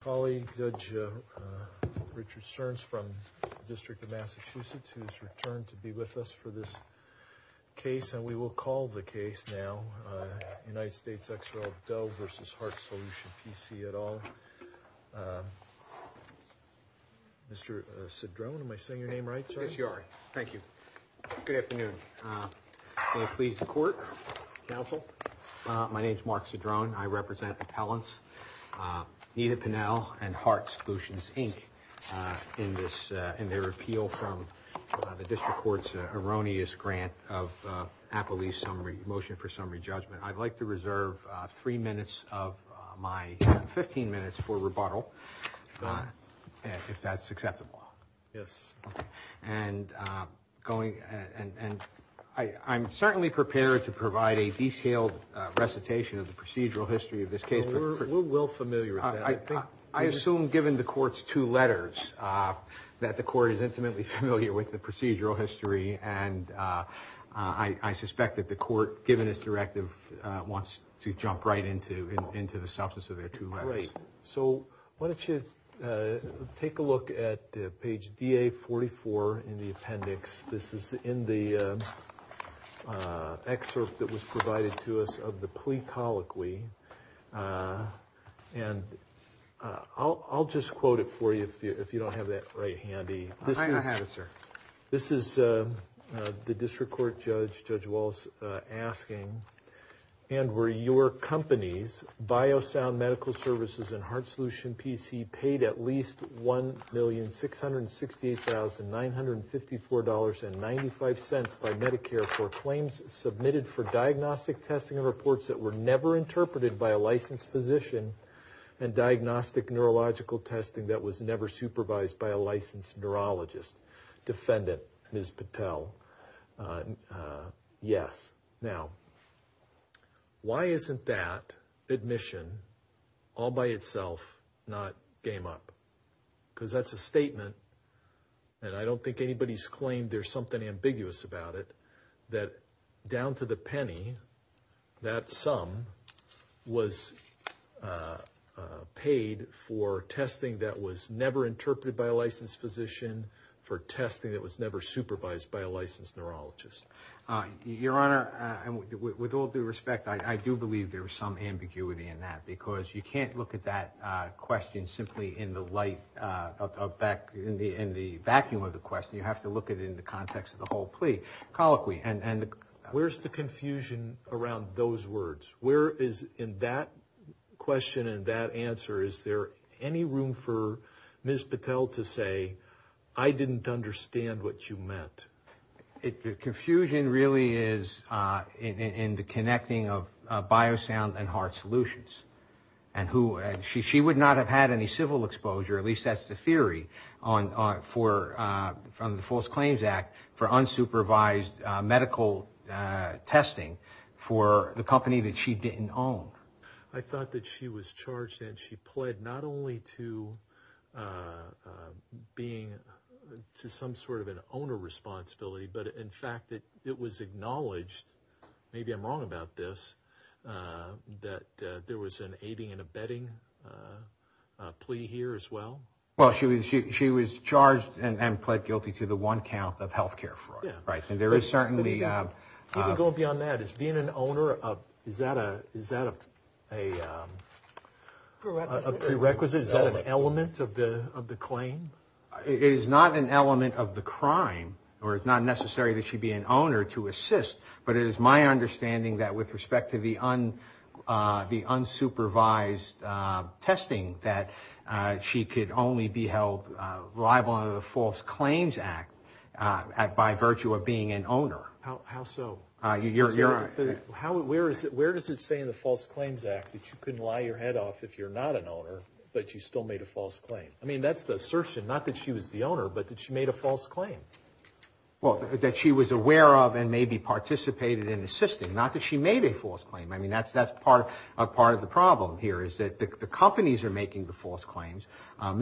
Colleague Judge Richard Stearns from the District of Massachusetts who's returned to be with us for this Case and we will call the case now United States XRL Doe v. Heart Solution P C et al Mr. Cedrone, am I saying your name right? Yes, you are. Thank you. Good afternoon May it please the court, counsel? My name is Mark Cedrone. I represent appellants Nita Pinnell and Heart Solutions, Inc. in this in their repeal from the district court's erroneous grant of Appellee's motion for summary judgment. I'd like to reserve three minutes of my 15 minutes for rebuttal if that's acceptable. Yes, and Going and and I I'm certainly prepared to provide a detailed recitation of the procedural history of this case. We're well familiar with that. I assume given the court's two letters that the court is intimately familiar with the procedural history and I suspect that the court given its directive wants to jump right into into the substance of their two letters. So why don't you take a look at page DA 44 in the appendix. This is in the excerpt that was provided to us of the plea colloquy and I'll just quote it for you. If you don't have that right handy. I have it sir. This is the district court judge, Judge Walsh asking and were your company's Biosound Medical Services and Heart Solution PC paid at least one million six hundred sixty eight thousand nine hundred and fifty four dollars and ninety five cents by Medicare for claims submitted for diagnostic testing and reports that were never interpreted by a licensed physician and Diagnostic neurological testing that was never supervised by a licensed neurologist defendant, Ms. Patel Yes now Why isn't that admission all by itself not game up? Because that's a statement And I don't think anybody's claimed there's something ambiguous about it that down to the penny that sum was Paid for testing that was never interpreted by a licensed physician For testing that was never supervised by a licensed neurologist Your honor and with all due respect I do believe there was some ambiguity in that because you can't look at that question simply in the light Back in the in the vacuum of the question you have to look at it in the context of the whole plea Colloquy and and where's the confusion around those words? Where is in that? Question and that answer is there any room for Ms. Patel to say I didn't understand what you meant it the confusion really is in the connecting of Biosound and heart solutions and who she would not have had any civil exposure at least that's the theory on for from the False Claims Act for unsupervised medical Testing for the company that she didn't own. I thought that she was charged and she pled not only to Being to some sort of an owner responsibility, but in fact that it was acknowledged maybe I'm wrong about this That there was an aiding and abetting Plea here as well. Well, she was she was charged and pled guilty to the one count of health care fraud, right? and there is certainly Beyond that. It's being an owner of is that a is that a Prerequisite is that an element of the of the claim It is not an element of the crime or it's not necessary that she'd be an owner to assist But it is my understanding that with respect to the on the unsupervised Testing that she could only be held liable under the False Claims Act By virtue of being an owner How it where is it where does it say in the False Claims Act that you couldn't lie your head off if you're not An owner, but you still made a false claim. I mean, that's the assertion not that she was the owner But did she made a false claim? Well that she was aware of and maybe Participated in assisting not that she made a false claim I mean, that's that's part of part of the problem here is that the companies are making the false claims?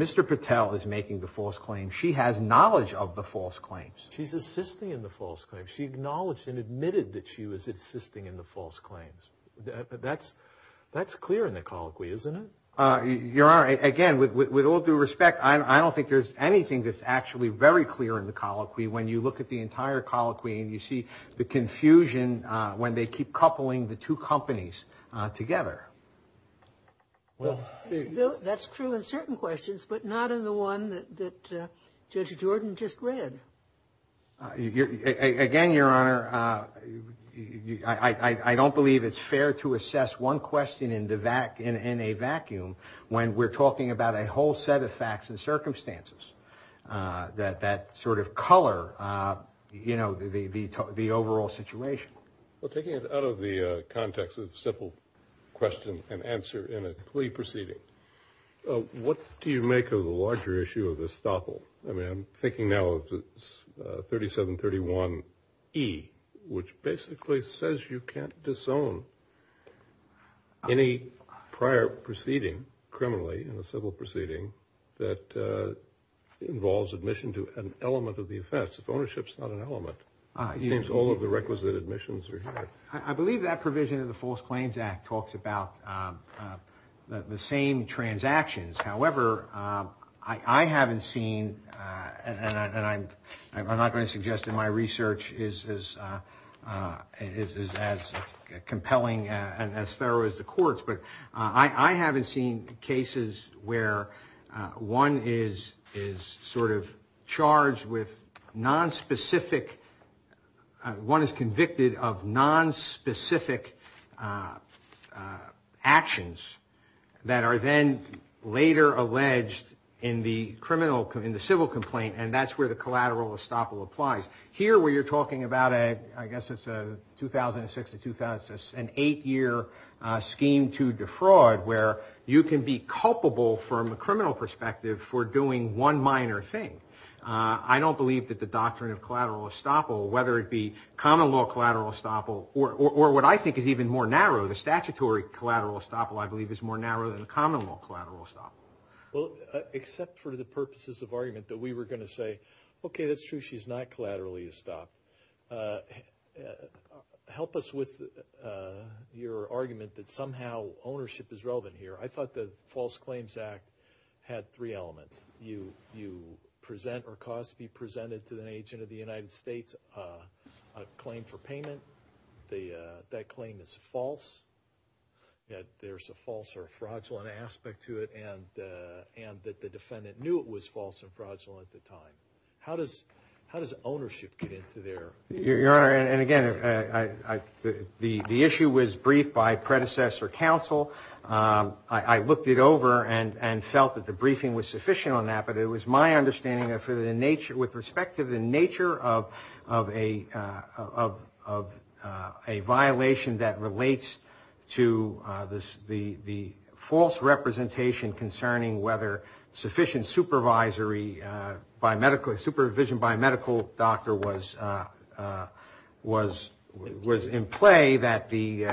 Mr. Patel is making the false claim. She has knowledge of the false claims. She's assisting in the false claims She acknowledged and admitted that she was assisting in the false claims That's that's clear in the colloquy, isn't it? You're all right again with all due respect I don't think there's anything that's actually very clear in the colloquy when you look at the entire colloquy and you see the Confusion when they keep coupling the two companies together Well, that's true in certain questions, but not in the one that Judge Jordan just read Again your honor I Don't believe it's fair to assess one question in the back in a vacuum When we're talking about a whole set of facts and circumstances That that sort of color You know the the the overall situation Well taking it out of the context of simple question and answer in a plea proceeding What do you make of the larger issue of this topple? I mean, I'm thinking now 37 31 e Which basically says you can't disown Any prior proceeding criminally in a civil proceeding that Involves admission to an element of the offense if ownership's not an element I think all of the requisite admissions are I believe that provision of the false claims act talks about the same transactions, however, I haven't seen and I'm not going to suggest in my research is as Compelling and as thorough as the courts, but I I haven't seen cases where One is is sort of charged with nonspecific One is convicted of nonspecific Actions that are then later alleged in the criminal in the civil complaint And that's where the collateral estoppel applies here where you're talking about it. I guess it's a 2006 to 2000 an eight-year Scheme to defraud where you can be culpable from a criminal perspective for doing one minor thing I don't believe that the doctrine of collateral estoppel whether it be common law collateral estoppel or what I think is even more narrow The statutory collateral estoppel I believe is more narrow than the common law collateral estoppel Well, except for the purposes of argument that we were going to say, okay, that's true. She's not collaterally estoppel And Help us with Your argument that somehow ownership is relevant here I thought the False Claims Act had three elements you you Present or cause be presented to an agent of the United States a claim for payment. They that claim is false Yet there's a false or fraudulent aspect to it and and that the defendant knew it was false and fraudulent at the time How does how does ownership get into there your honor and again, I The the issue was briefed by predecessor counsel I looked it over and and felt that the briefing was sufficient on that but it was my understanding that for the nature with respect to the nature of of a of a violation that relates to this the the false representation concerning whether sufficient supervisory by medical supervision by a medical doctor was was was in play that the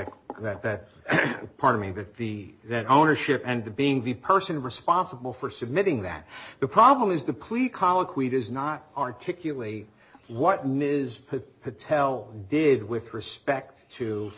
Pardon me, but the that ownership and the being the person responsible for submitting that the problem is the plea colloquy does not Articulate what ms. Patel did with respect to?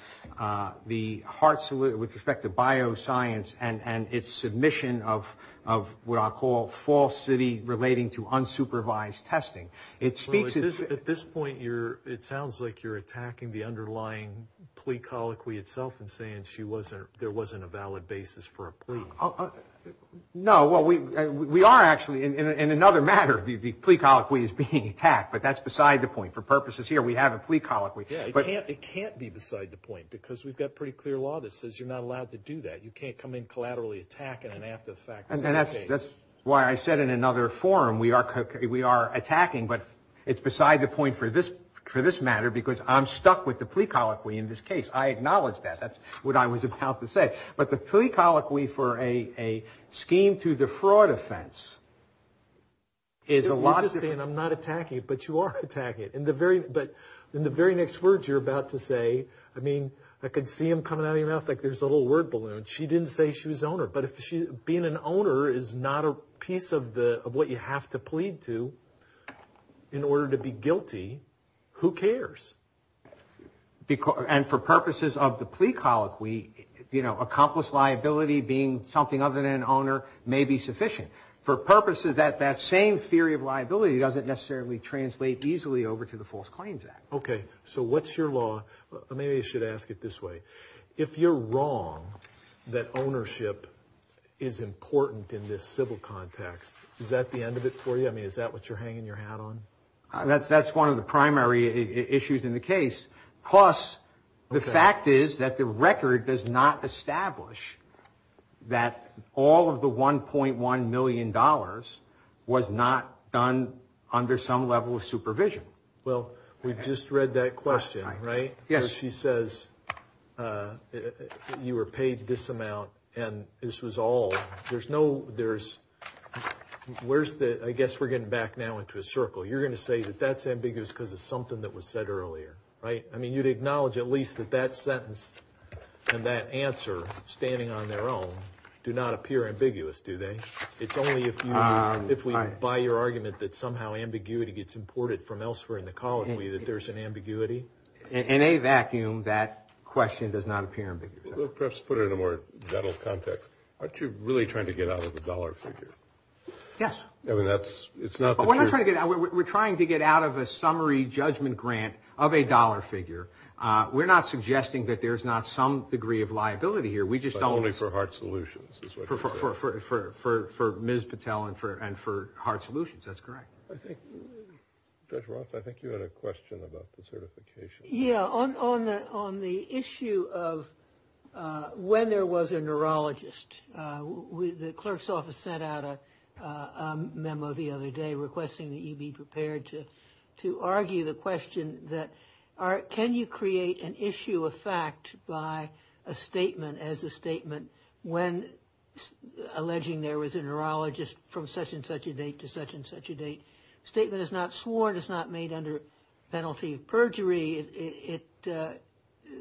the heart salute with respect to Bioscience and and its submission of of what I'll call false city relating to unsupervised testing It speaks at this point. You're it sounds like you're attacking the underlying Plea colloquy itself and saying she wasn't there wasn't a valid basis for a plea. Oh No, well, we we are actually in another matter The plea colloquy is being attacked, but that's beside the point for purposes here. We have a plea colloquy But it can't be beside the point because we've got pretty clear law that says you're not allowed to do that You can't come in collaterally attacking and after the fact and that's that's why I said in another forum We are we are attacking but it's beside the point for this for this matter because I'm stuck with the plea colloquy in this case I acknowledge that that's what I was about to say, but the plea colloquy for a scheme to the fraud offense Is a lot of saying I'm not attacking it But you are attacking it in the very but in the very next words You're about to say I mean I could see him coming out of your mouth like there's a little word balloon She didn't say she was owner But if she being an owner is not a piece of the of what you have to plead to In order to be guilty who cares? Because and for purposes of the plea colloquy, you know accomplished liability being something other than an owner may be sufficient for Purposes that that same theory of liability doesn't necessarily translate easily over to the False Claims Act, okay So what's your law? Maybe you should ask it this way if you're wrong that Ownership is Important in this civil context. Is that the end of it for you? I mean, is that what you're hanging your hat on that's that's one of the primary issues in the case Plus the fact is that the record does not establish That all of the 1.1 million dollars was not done under some level of supervision Well, we've just read that question, right? Yes, she says You were paid this amount and this was all there's no there's Where's the I guess we're getting back now into a circle You're gonna say that that's ambiguous because it's something that was said earlier, right? I mean you'd acknowledge at least that that sentence and that answer standing on their own do not appear ambiguous Do they it's only a few if we buy your argument that somehow ambiguity gets imported from elsewhere in the colony that there's an ambiguity In a vacuum that question does not appear ambiguous. Let's put it in a more gentle context Aren't you really trying to get out of the dollar figure? Yes, I mean, that's it's not we're not trying to get out We're trying to get out of a summary judgment grant of a dollar figure We're not suggesting that there's not some degree of liability here. We just only for heart solutions For for ms. Patel and for and for heart solutions, that's correct Yeah on on the on the issue of when there was a neurologist with the clerk's office sent out a Requesting that you be prepared to to argue the question that are can you create an issue of fact by a statement as a statement when Alleging there was a neurologist from such-and-such a date to such-and-such a date statement is not sworn is not made under penalty of perjury it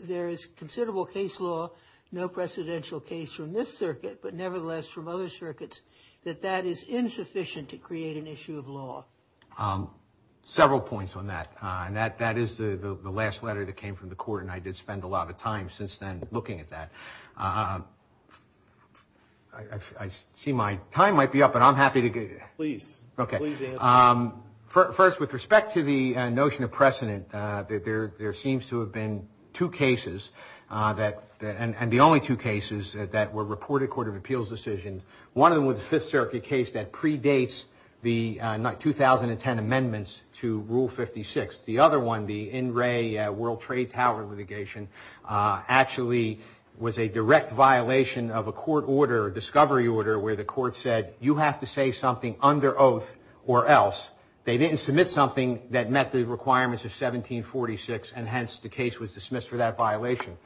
There is considerable case law no precedential case from this circuit But nevertheless from other circuits that that is insufficient to create an issue of law Several points on that and that that is the the last letter that came from the court and I did spend a lot of time since then looking at that I See my time might be up and I'm happy to get it, please First with respect to the notion of precedent that there there seems to have been two cases That and the only two cases that were reported Court of Appeals decisions One of them with the Fifth Circuit case that predates the night 2010 amendments to rule 56 the other one the in Ray World Trade Tower litigation Actually was a direct violation of a court order discovery order where the court said you have to say something under oath or else They didn't submit something that met the requirements of 1746 and hence the case was dismissed for that violation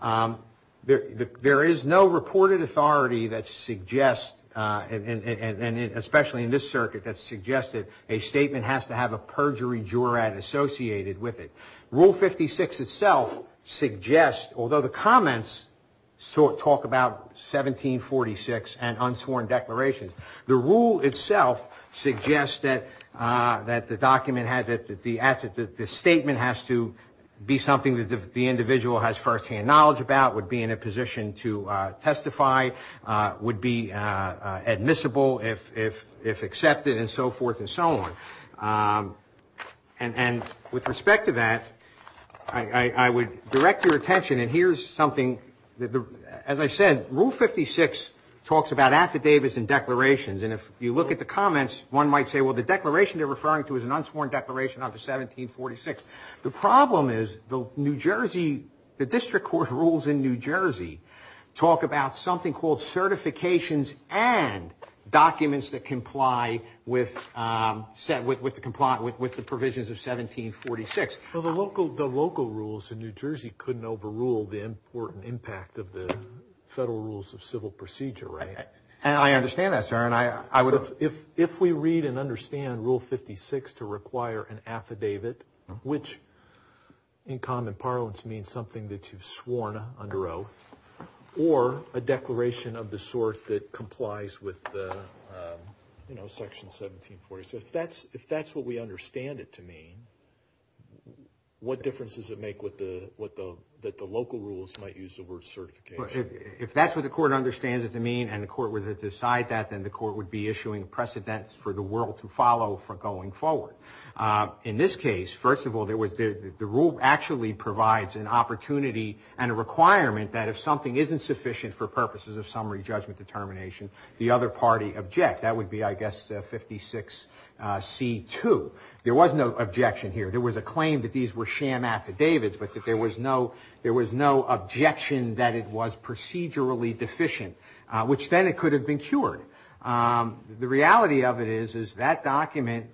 There there is no reported authority that suggests And and especially in this circuit that suggested a statement has to have a perjury juror at associated with it rule 56 itself suggests although the comments sort talk about 1746 and unsworn declarations the rule itself suggests that That the document had that the asset that this statement has to Be something that the individual has first-hand knowledge about would be in a position to testify would be admissible if if if accepted and so forth and so on and and with respect to that I Would direct your attention and here's something that the as I said rule 56 talks about affidavits and declarations And if you look at the comments one might say well the declaration they're referring to is an unsworn declaration under 1746 the problem is the New Jersey the district court rules in New Jersey talk about something called certifications and documents that comply with said with with the compliant with the provisions of 1746 for the local the local rules in New Jersey couldn't overrule the important impact of the Federal rules of civil procedure right and I understand that sir and I I would have if if we read and understand rule 56 to require an affidavit which in common parlance means something that you've sworn under oath or a declaration of the sort that complies with You know section 1746 if that's if that's what we understand it to mean What difference does it make with the what the that the local rules might use the word certification If that's what the court understands it to mean and the court would decide that then the court would be issuing precedents for the world to follow for going forward in this case first of all there was the the rule actually provides an Opportunity and a requirement that if something isn't sufficient for purposes of summary judgment determination the other party object that would be I guess 56 C2 there was no objection here. There was a claim that these were sham affidavits But that there was no there was no objection that it was procedurally deficient which then it could have been cured The reality of it is is that document?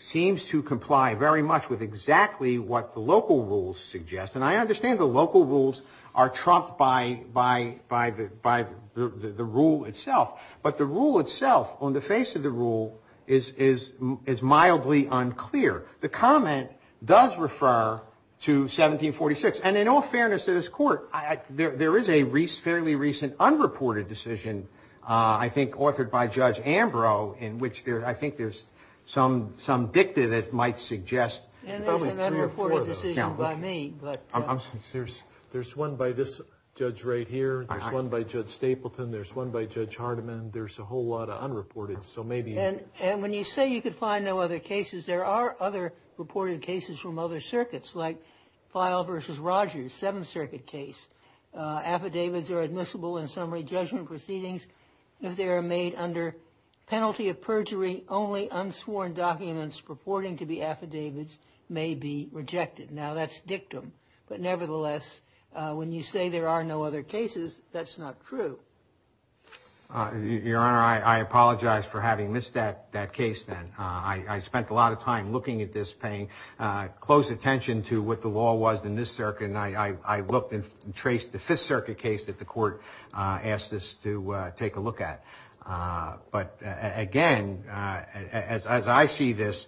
Seems to comply very much with exactly what the local rules suggest and I understand the local rules are Trumped by by by the by the rule itself But the rule itself on the face of the rule is is is mildly unclear the comment does refer To 1746 and in all fairness to this court. I there is a Reese fairly recent unreported decision I think authored by Judge Ambrose in which there I think there's some some dicta that might suggest By me, but I'm serious. There's one by this judge right here. There's one by Judge Stapleton There's one by Judge Hardiman There's a whole lot of unreported so maybe and and when you say you could find no other cases There are other reported cases from other circuits like file versus Rogers Seventh Circuit case Affidavits are admissible in summary judgment proceedings if they are made under Penalty of perjury only unsworn documents purporting to be affidavits may be rejected now That's dictum, but nevertheless When you say there are no other cases, that's not true Your honor I apologize for having missed that that case then I spent a lot of time looking at this paying Close attention to what the law was in this circuit I I looked and traced the Fifth Circuit case that the court asked us to take a look at But again As I see this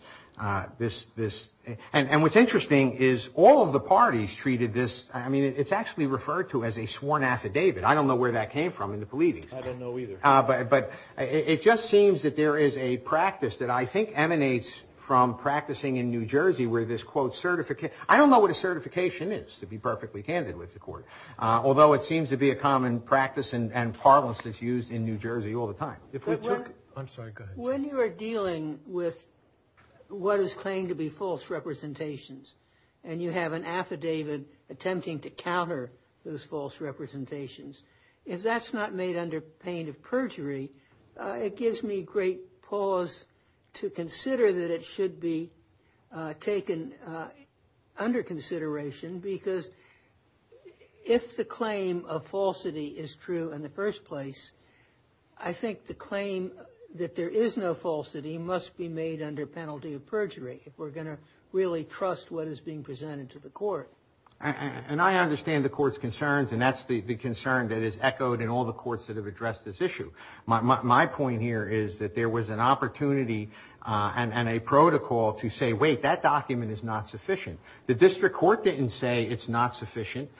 This this and and what's interesting is all of the parties treated this I mean, it's actually referred to as a sworn affidavit. I don't know where that came from in the police I don't know either But but it just seems that there is a practice that I think emanates from practicing in New Jersey where this quote Certification. I don't know what a certification is to be perfectly candid with the court Although it seems to be a common practice and parlance that's used in New Jersey all the time if we took I'm sorry good when you are dealing with What is claimed to be false representations and you have an affidavit attempting to counter those false? Representations if that's not made under pain of perjury It gives me great pause to consider that it should be taken under consideration because If the claim of falsity is true in the first place, I Think the claim that there is no falsity must be made under penalty of perjury if we're going to really trust What is being presented to the court? And I understand the court's concerns and that's the the concern that is echoed in all the courts that have addressed this issue My point here is that there was an opportunity And a protocol to say wait that document is not sufficient the district court didn't say it's not sufficient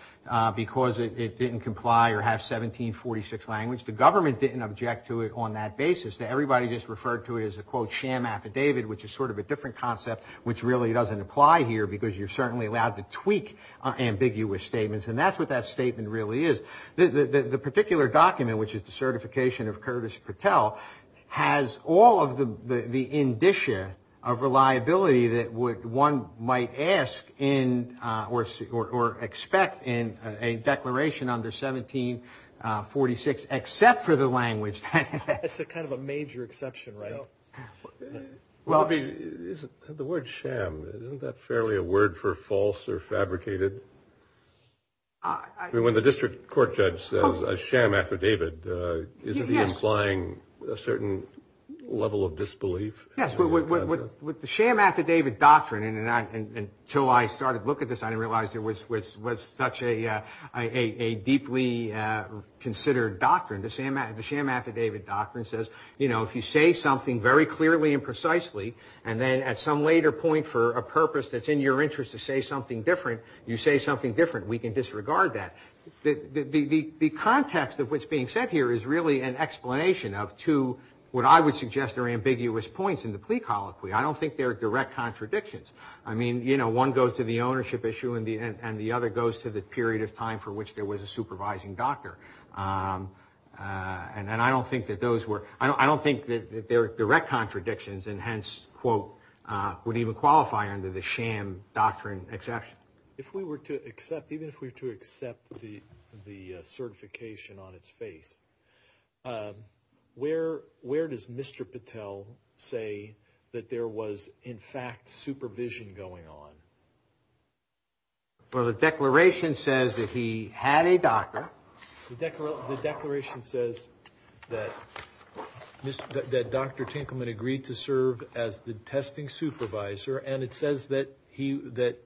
Because it didn't comply or have 1746 language the government didn't object to it on that basis that everybody just referred to it as a quote sham affidavit Which is sort of a different concept which really doesn't apply here because you're certainly allowed to tweak Ambiguous statements and that's what that statement really is the the particular document which is the certification of Curtis Patel Has all of the indicia of Reliability that would one might ask in or or expect in a declaration under 1746 except for the language Well the word sham isn't that fairly a word for false or fabricated I Amplying a certain level of disbelief yes With the sham affidavit doctrine and and until I started look at this. I didn't realize there was was such a deeply Considered doctrine to Sam at the sham affidavit doctrine says you know if you say something very clearly and precisely and then at some later Point for a purpose that's in your interest to say something different you say something different we can disregard that The the context of what's being said here is really an explanation of to what I would suggest are ambiguous points in the plea Colloquy, I don't think they're direct contradictions I mean you know one goes to the ownership issue in the end and the other goes to the period of time for which there Was a supervising doctor And then I don't think that those were I don't think that they're direct contradictions and hence quote Would even qualify under the sham doctrine exception if we were to accept even if we were to accept the certification on its face Where where does mr. Patel say that there was in fact supervision going on? Well the declaration says that he had a doctor the declaration says that Miss that dr. Tinkleman agreed to serve as the testing supervisor, and it says that he that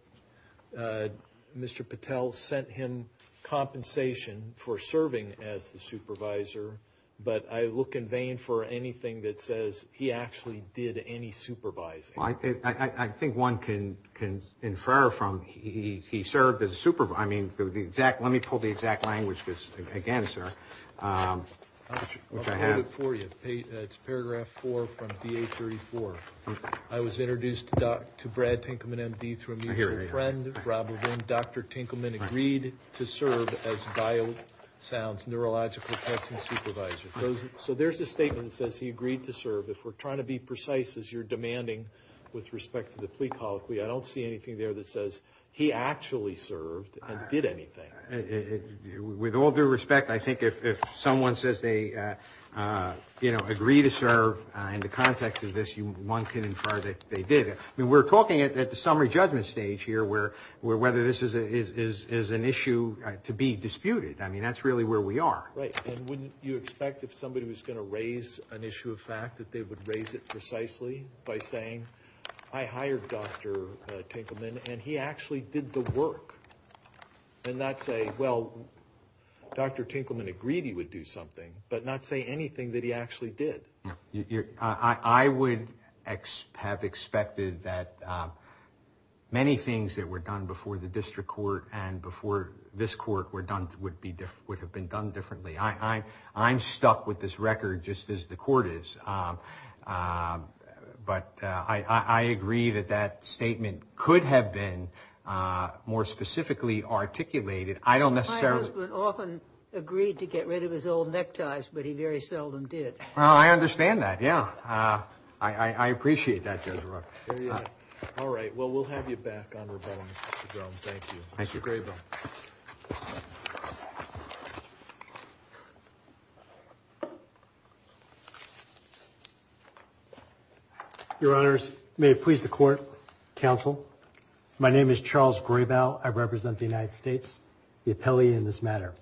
Mr. Patel sent him Compensation for serving as the supervisor But I look in vain for anything that says he actually did any supervising I think one can can infer from he served as a super But I mean through the exact let me pull the exact language this again, sir It's paragraph 4 from the 834 I was introduced to Brad Tinkleman MD through a friend Dr. Tinkleman agreed to serve as dial sounds neurological So there's a statement that says he agreed to serve if we're trying to be precise as you're demanding With respect to the plea colloquy. I don't see anything there that says he actually served and did anything With all due respect, I think if someone says they You know agree to serve in the context of this you one can infer that they did it I mean we're talking at the summary judgment stage here where where whether this is an issue to be disputed I mean, that's really where we are You expect if somebody was going to raise an issue of fact that they would raise it precisely by saying I hired dr Tinkleman and he actually did the work And that's a well Dr. Tinkleman agreed. He would do something but not say anything that he actually did I would have expected that Many things that were done before the district court and before this court were done would be different would have been done differently I I'm stuck with this record just as the court is But I Agree that that statement could have been More specifically Articulated. I don't necessarily often agreed to get rid of his old neckties, but he very seldom did well, I understand that. Yeah, I Appreciate that I represent the United States the appellee in this matter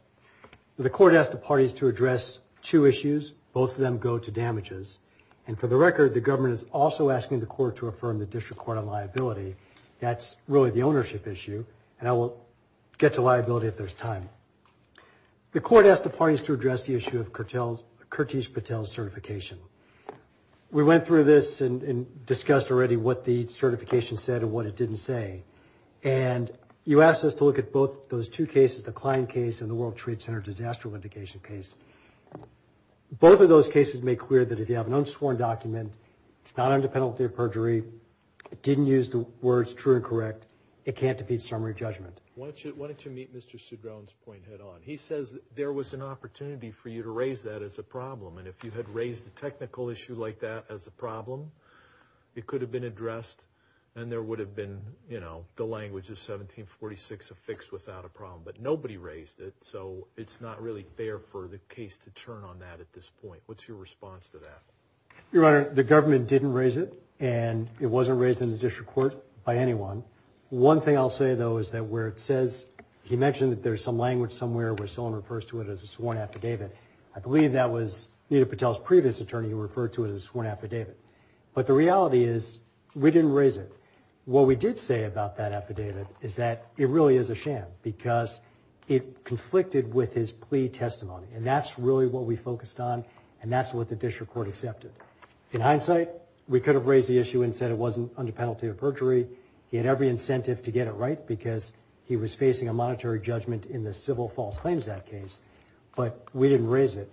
The court asked the parties to address two issues both of them go to damages and for the record The government is also asking the court to affirm the district court on liability That's really the ownership issue and I will get to liability if there's time The court asked the parties to address the issue of curtailed Kirtish Patel certification we went through this and discussed already what the certification said and what it didn't say and You asked us to look at both those two cases the client case and the World Trade Center disaster of indication case Both of those cases make clear that if you have an unsworn document, it's not under penalty of perjury It didn't use the words true and correct. It can't defeat summary judgment. Why don't you meet? Mr. Sudhran's point head-on He says there was an opportunity for you to raise that as a problem And if you had raised a technical issue like that as a problem It could have been addressed and there would have been you know The language of 1746 affixed without a problem, but nobody raised it So it's not really fair for the case to turn on that at this point. What's your response to that? Your honor the government didn't raise it and it wasn't raised in the district court by anyone One thing I'll say though is that where it says he mentioned that there's some language somewhere where someone refers to it as a sworn Affidavit, I believe that was needed Patel's previous attorney He referred to it as one affidavit, but the reality is we didn't raise it What we did say about that affidavit is that it really is a sham because it Conflicted with his plea testimony and that's really what we focused on and that's what the district court accepted in hindsight We could have raised the issue and said it wasn't under penalty of perjury He had every incentive to get it right because he was facing a monetary judgment in the civil false claims that case But we didn't raise it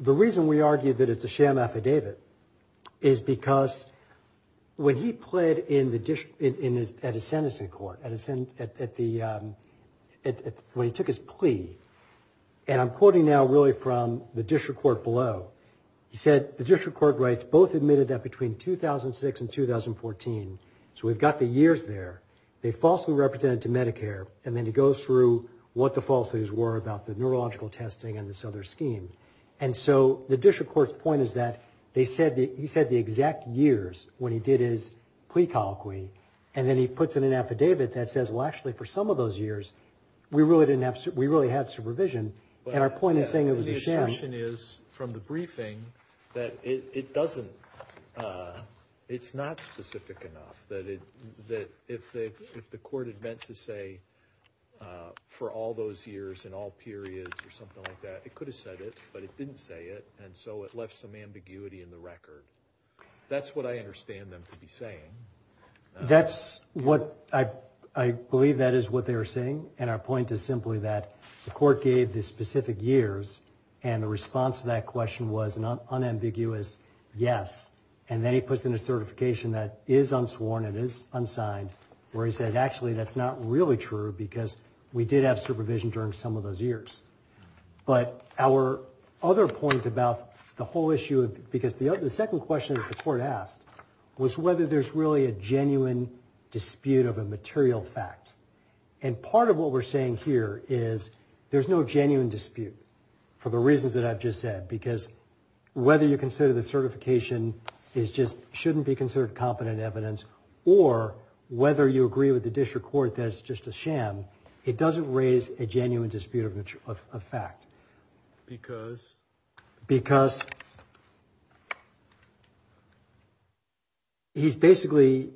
The reason we argued that it's a sham affidavit is because when he pled in the dish in his at a sentencing court at his end at the When he took his plea And I'm quoting now really from the district court below. He said the district court rights both admitted that between 2006 and 2014 So we've got the years there They falsely represented to Medicare and then he goes through what the false news were about the neurological testing and this other scheme And so the district court's point is that they said he said the exact years when he did his plea colloquy And then he puts in an affidavit that says well actually for some of those years We really didn't have we really had supervision and our point is saying it was a sham is from the briefing that it doesn't It's not specific enough that it that if the court had meant to say For all those years in all periods or something like that It could have said it but it didn't say it and so it left some ambiguity in the record That's what I understand them to be saying That's what I I believe that is what they were saying And our point is simply that the court gave the specific years and the response to that question was not unambiguous Yes And then he puts in a certification that is unsworn it is unsigned where he says actually that's not really true Because we did have supervision during some of those years But our other point about the whole issue of because the other the second question that the court asked was whether there's really a genuine dispute of a material fact and part of what we're saying here is there's no genuine dispute for the reasons that I've just said because whether you consider the certification is just shouldn't be considered competent evidence or Whether you agree with the district court that it's just a sham it doesn't raise a genuine dispute of a fact because because He's basically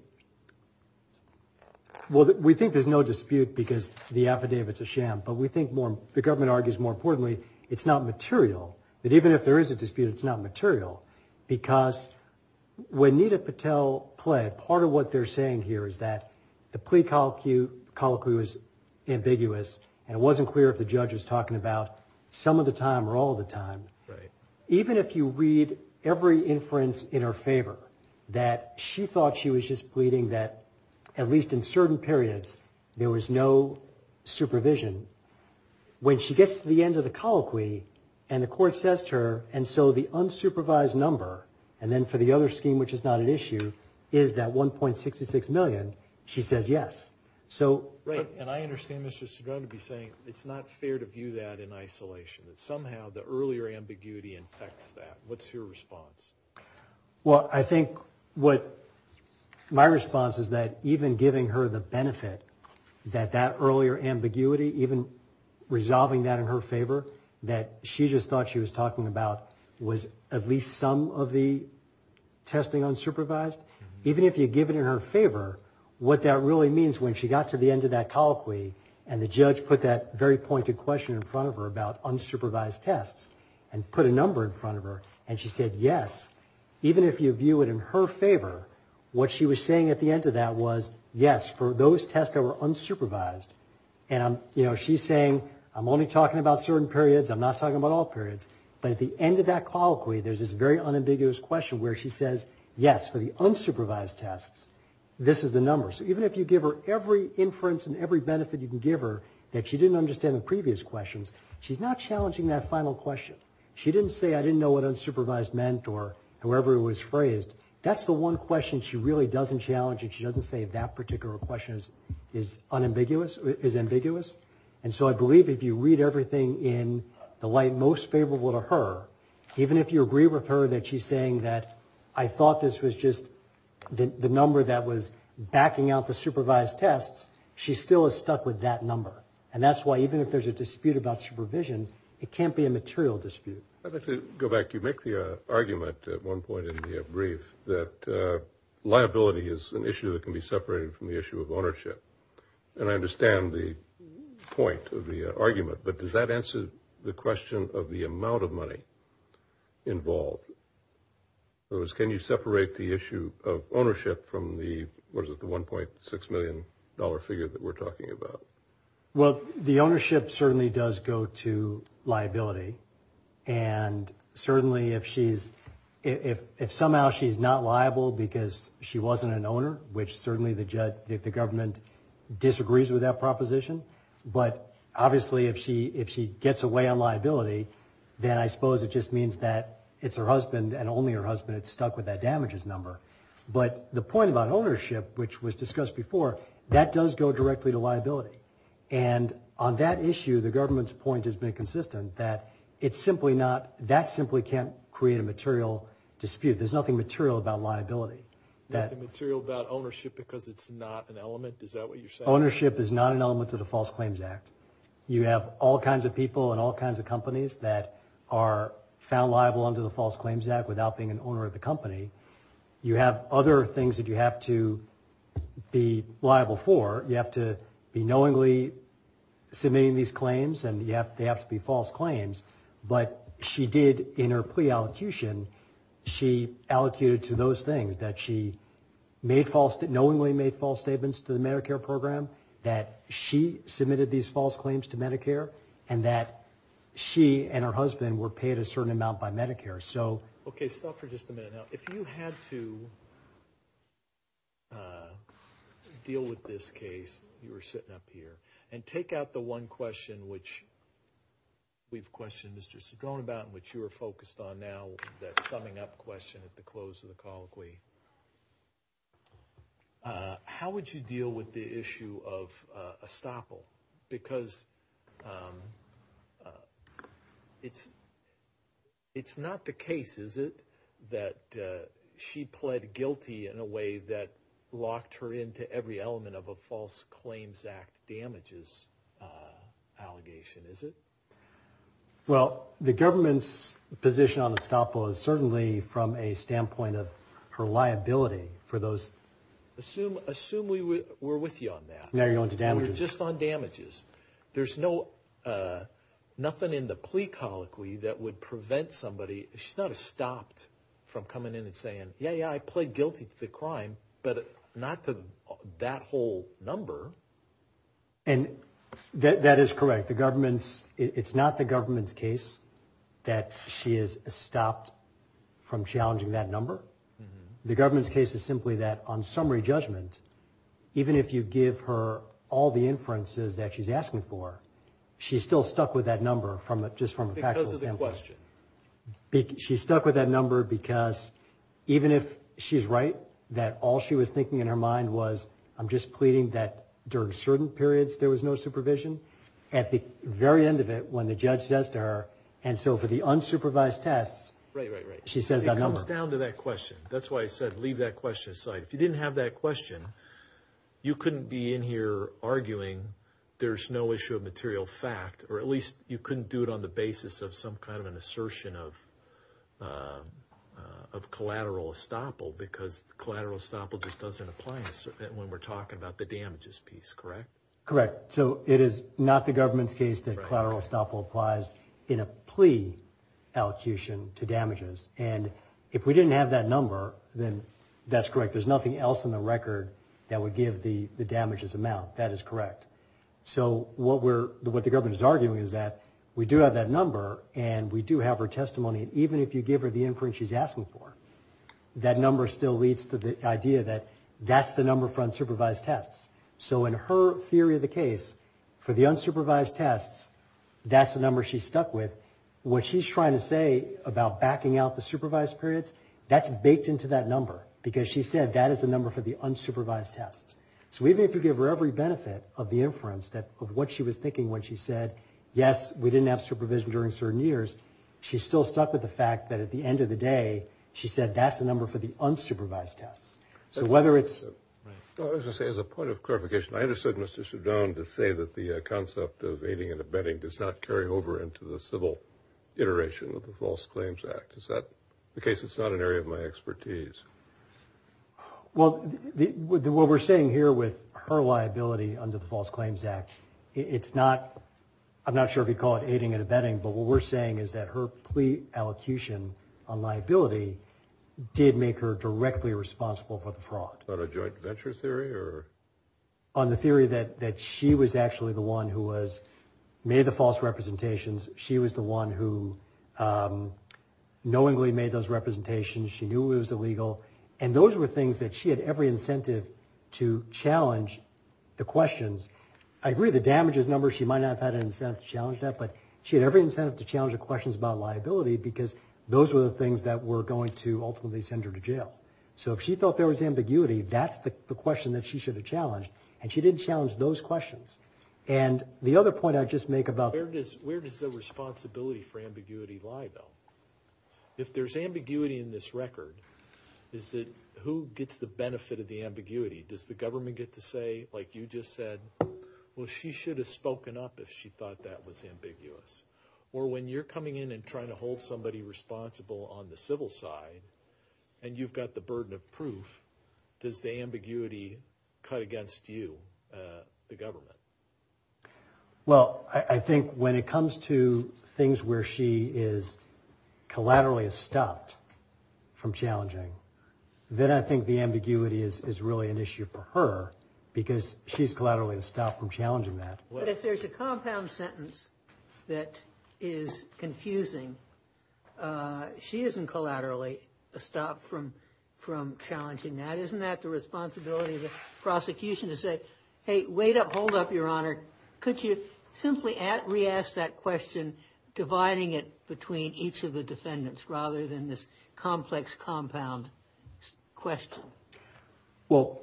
Well, we think there's no dispute because the affidavit's a sham but we think more the government argues more importantly it's not material that even if there is a dispute it's not material because When Nita Patel pled part of what they're saying here is that the plea colloquy colloquy was Ambiguous and it wasn't clear if the judge was talking about some of the time or all the time Right, even if you read every inference in her favor that she thought she was just pleading that At least in certain periods there was no supervision When she gets to the end of the colloquy and the court says to her and so the Unsupervised number and then for the other scheme, which is not an issue. Is that 1.66 million? She says yes, so right And I understand this is going to be saying it's not fair to view that in isolation that somehow the earlier ambiguity Infects that what's your response? Well, I think what? My response is that even giving her the benefit that that earlier ambiguity even Resolving that in her favor that she just thought she was talking about was at least some of the testing unsupervised even if you give it in her favor what that really means when she got to the end of that colloquy and the judge put That very pointed question in front of her about unsupervised tests and put a number in front of her and she said yes Even if you view it in her favor what she was saying at the end of that was yes for those tests That were unsupervised and I'm you know, she's saying I'm only talking about certain periods I'm not talking about all periods but at the end of that colloquy There's this very unambiguous question where she says yes for the unsupervised tests. This is the number So even if you give her every inference and every benefit you can give her that she didn't understand the previous questions She's not challenging that final question. She didn't say I didn't know what unsupervised meant or whoever it was phrased That's the one question. She really doesn't challenge it. She doesn't say if that particular question is is Unambiguous is ambiguous. And so I believe if you read everything in the light most favorable to her Even if you agree with her that she's saying that I thought this was just the number that was backing out the supervised tests She still is stuck with that number and that's why even if there's a dispute about supervision, it can't be a material dispute Go back you make the argument at one point in the brief that liability is an issue that can be separated from the issue of ownership and I understand the Point of the argument, but does that answer the question of the amount of money? involved So as can you separate the issue of ownership from the was at the 1.6 million dollar figure that we're talking about well, the ownership certainly does go to liability and Certainly if she's if if somehow she's not liable because she wasn't an owner which certainly the judge if the government disagrees with that proposition But obviously if she if she gets away on liability Then I suppose it just means that it's her husband and only her husband. It's stuck with that damages number but the point about ownership which was discussed before that does go directly to liability and On that issue the government's point has been consistent that it's simply not that simply can't create a material dispute There's nothing material about liability that material about ownership because it's not an element Is that what you're saying ownership is not an element of the False Claims Act? you have all kinds of people and all kinds of companies that are Found liable under the False Claims Act without being an owner of the company. You have other things that you have to Be liable for you have to be knowingly Submitting these claims and yet they have to be false claims, but she did in her plea allocution she allocated to those things that she made false that knowingly made false statements to the Medicare program that she submitted these false claims to Medicare and that She and her husband were paid a certain amount by Medicare. So okay stop for just a minute now if you had to Deal with this case you were sitting up here and take out the one question, which We've questioned. Mr. Cedrone about in which you were focused on now that summing up question at the close of the colloquy How would you deal with the issue of estoppel because It's It's not the case. Is it that? She pled guilty in a way that locked her into every element of a False Claims Act damages Allegation is it Well the government's position on estoppel is certainly from a standpoint of her liability for those Assume assume we were with you on that. No, you're going to damage. We're just on damages. There's no Nothing in the plea colloquy that would prevent somebody she's not a stopped from coming in and saying yeah yeah, I pled guilty to the crime, but not to that whole number and That that is correct the government's it's not the government's case that she is stopped from challenging that number The government's case is simply that on summary judgment Even if you give her all the inferences that she's asking for She's still stuck with that number from it just from a package of the question she stuck with that number because Even if she's right that all she was thinking in her mind was I'm just pleading that during certain periods There was no supervision at the very end of it when the judge says to her and so for the unsupervised tests, right? Right, right. She says that comes down to that question That's why I said leave that question aside if you didn't have that question You couldn't be in here arguing there's no issue of material fact or at least you couldn't do it on the basis of some kind of an assertion of Of collateral estoppel because collateral estoppel just doesn't apply when we're talking about the damages piece, correct, correct So it is not the government's case that collateral estoppel applies in a plea Elocution to damages and if we didn't have that number then that's correct There's nothing else in the record that would give the the damages amount. That is correct So what we're what the government is arguing is that we do have that number and we do have her testimony Even if you give her the inference she's asking for That number still leads to the idea that that's the number front supervised tests So in her theory of the case for the unsupervised tests, that's the number she's stuck with What she's trying to say about backing out the supervised periods That's baked into that number because she said that is the number for the unsupervised tests So even if you give her every benefit of the inference that of what she was thinking when she said yes We didn't have supervision during certain years. She's still stuck with the fact that at the end of the day She said that's the number for the unsupervised tests. So whether it's As a point of clarification To say that the concept of aiding and abetting does not carry over into the civil Iteration of the False Claims Act is that the case? It's not an area of my expertise Well the what we're saying here with her liability under the False Claims Act It's not I'm not sure if you call it aiding and abetting but what we're saying is that her plea allocution on liability Did make her directly responsible for the fraud on a joint venture theory or? On the theory that that she was actually the one who was made the false representations. She was the one who? Knowingly made those representations she knew it was illegal and those were things that she had every incentive to Challenge the questions. I agree the damages number She might not have had an incentive to challenge that but she had every incentive to challenge the questions about liability Because those were the things that were going to ultimately send her to jail So if she felt there was ambiguity, that's the question that she should have challenged and she didn't challenge those questions And the other point I just make about where it is. Where does the responsibility for ambiguity lie though? If there's ambiguity in this record, is it who gets the benefit of the ambiguity? Does the government get to say like you just said? Well, she should have spoken up if she thought that was ambiguous or when you're coming in and trying to hold somebody Responsible on the civil side and you've got the burden of proof. Does the ambiguity cut against you? the government Well, I think when it comes to things where she is Collaterally stopped from challenging Then I think the ambiguity is really an issue for her because she's collateral in a stop from challenging that But if there's a compound sentence that is Confusing She isn't collaterally a stop from from challenging that isn't that the responsibility of the prosecution to say? Hey, wait up. Hold up your honor. Could you simply add re-ask that question? Dividing it between each of the defendants rather than this complex compound question well,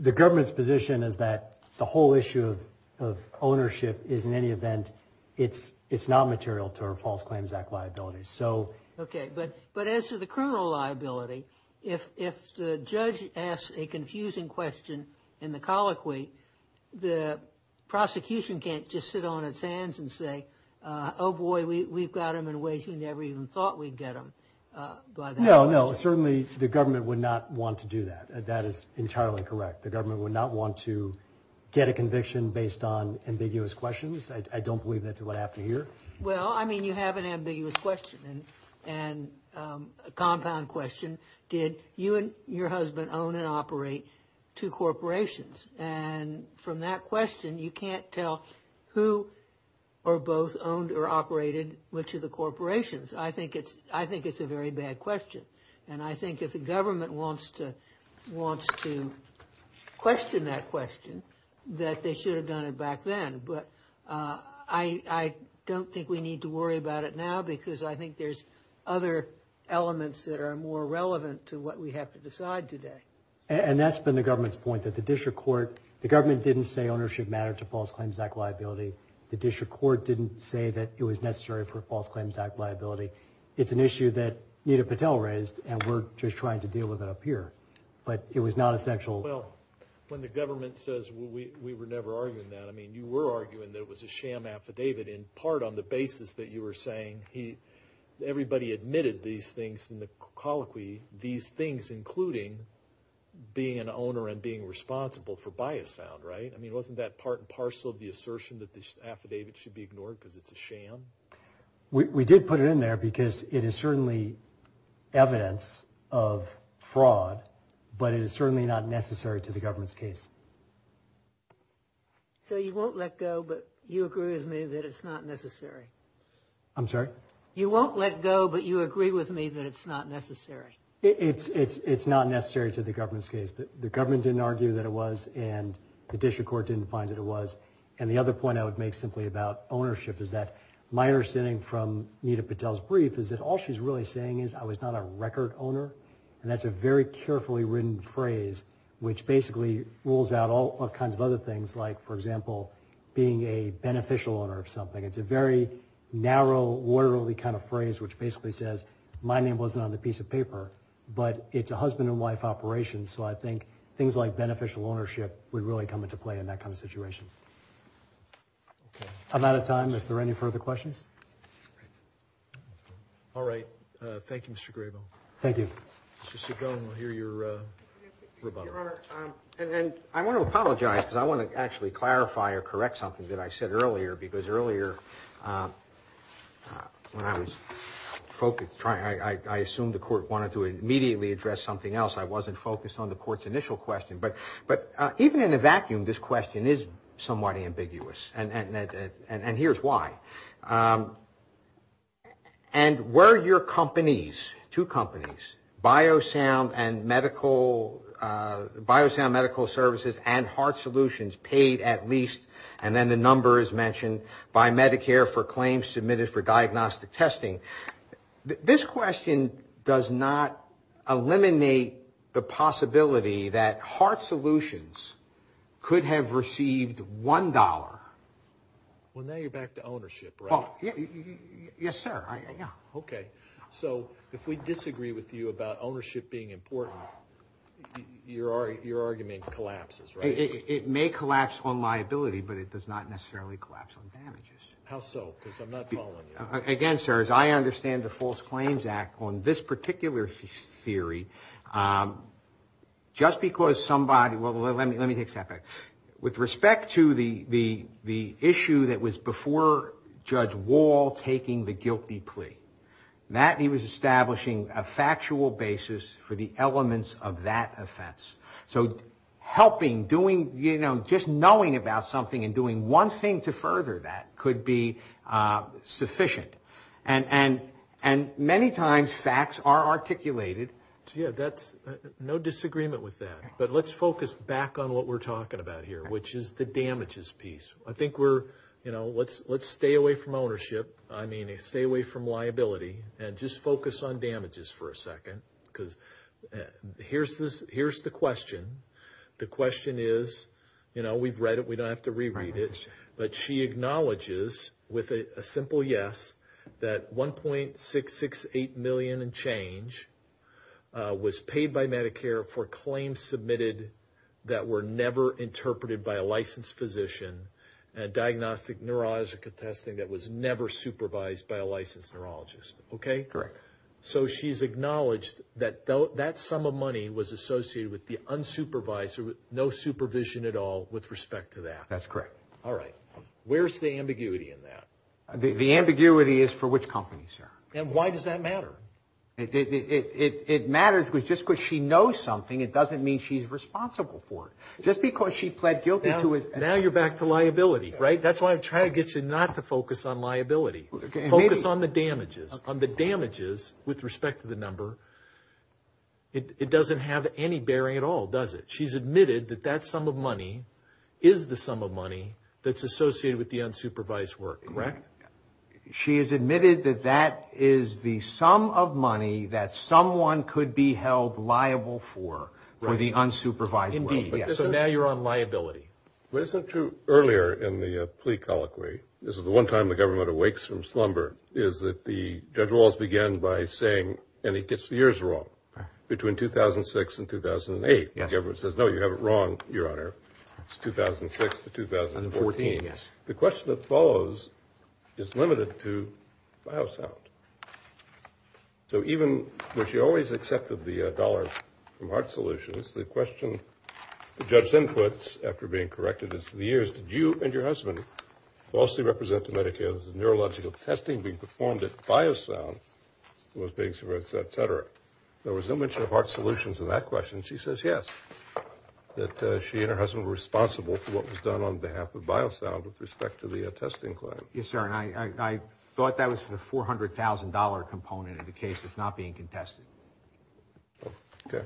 the government's position is that the whole issue of Ownership is in any event. It's it's not material to our False Claims Act liabilities So, okay, but but as to the criminal liability if if the judge asks a confusing question in the colloquy the Prosecution can't just sit on its hands and say oh boy. We've got him in ways. We never even thought we'd get him No, no, certainly the government would not want to do that. That is entirely correct The government would not want to get a conviction based on ambiguous questions. I don't believe that's what happened here well, I mean you have an ambiguous question and and a compound question did you and your husband own and operate two corporations and From that question. You can't tell who or both owned or operated which of the corporations I think it's I think it's a very bad question. And I think if the government wants to wants to question that question that they should have done it back then but I Don't think we need to worry about it now because I think there's other Elements that are more relevant to what we have to decide today And that's been the government's point that the district court the government didn't say ownership matter to False Claims Act liability The district court didn't say that it was necessary for False Claims Act liability It's an issue that Nita Patel raised and we're just trying to deal with it up here, but it was not essential When the government says we were never arguing that I mean you were arguing that it was a sham Affidavit in part on the basis that you were saying he Everybody admitted these things in the colloquy these things including Being an owner and being responsible for by a sound right? I mean wasn't that part and parcel of the assertion that this affidavit should be ignored because it's a sham We did put it in there because it is certainly evidence of But it is certainly not necessary to the government's case So you won't let go but you agree with me that it's not necessary I'm sorry, you won't let go but you agree with me that it's not necessary It's it's it's not necessary to the government's case that the government didn't argue that it was and The district court didn't find that it was and the other point I would make simply about ownership Is that my understanding from Nita Patel's brief is that all she's really saying is I was not a record owner And that's a very carefully written phrase, which basically rules out all kinds of other things like for example Being a beneficial owner of something. It's a very narrow Orderly kind of phrase which basically says my name wasn't on the piece of paper, but it's a husband-and-wife operation So I think things like beneficial ownership would really come into play in that kind of situation I'm out of time if there are any further questions All right, thank you, mr. Grable, thank you It's just a gun. We'll hear your And I want to apologize because I want to actually clarify or correct something that I said earlier because earlier When I was Focused trying I assumed the court wanted to immediately address something else I wasn't focused on the court's initial question But but even in a vacuum this question is somewhat ambiguous and and and here's why and Where your company's two companies? Biosound and medical Biosound medical services and heart solutions paid at least and then the number is mentioned by Medicare for claims submitted for diagnostic testing This question does not Eliminate the possibility that heart solutions could have received one dollar Well now you're back to ownership. Oh Yes, sir, yeah, okay, so if we disagree with you about ownership being important Your are your argument collapses, right? It may collapse on liability, but it does not necessarily collapse on damages How so because I'm not again sir as I understand the False Claims Act on this particular theory Just because somebody well, let me let me take separate with respect to the the the issue that was before Judge wall taking the guilty plea that he was establishing a factual basis for the elements of that offense, so Helping doing you know just knowing about something and doing one thing to further that could be Sufficient and and and many times facts are articulated Yeah, that's no disagreement with that, but let's focus back on what we're talking about here, which is the damages piece I think we're you know let's let's stay away from ownership I mean they stay away from liability and just focus on damages for a second because Here's this here's the question the question is you know we've read it We don't have to reread it, but she acknowledges with a simple. Yes that 1.668 million and change Was paid by Medicare for claims submitted that were never interpreted by a licensed physician Diagnostic neurological testing that was never supervised by a licensed neurologist, okay correct So she's acknowledged that though that sum of money was associated with the unsupervised with no supervision at all with respect to that That's correct. All right. Where's the ambiguity in that the ambiguity is for which company sir, and why does that matter it? It matters because just because she knows something it doesn't mean she's responsible for it Because she pled guilty to it now you're back to liability right that's why I'm trying to get you not to focus on liability Focus on the damages on the damages with respect to the number It doesn't have any bearing at all does it she's admitted that that sum of money is the sum of money That's associated with the unsupervised work, correct She has admitted that that is the sum of money that someone could be held liable for For the unsupervised indeed yes, so now you're on liability What isn't true earlier in the plea colloquy? This is the one time the government awakes from slumber is that the judge walls began by saying and he gets the years wrong Between 2006 and 2008 yes ever says no you have it wrong your honor 2006 to 2014 yes the question that follows is limited to biosound So even though she always accepted the dollars from heart solutions the question The judge's inputs after being corrected is the years did you and your husband? Falsely represent the medicare's neurological testing being performed at biosound Was being suppressed etc. There was no mention of heart solutions in that question. She says yes That she and her husband were responsible for what was done on behalf of biosound with respect to the attesting claim yes, sir And I thought that was for the four hundred thousand dollar component of the case. That's not being contested Okay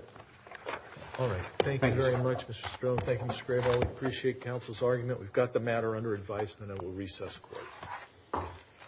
Appreciate counsel's argument, we've got the matter under advisement and we'll recess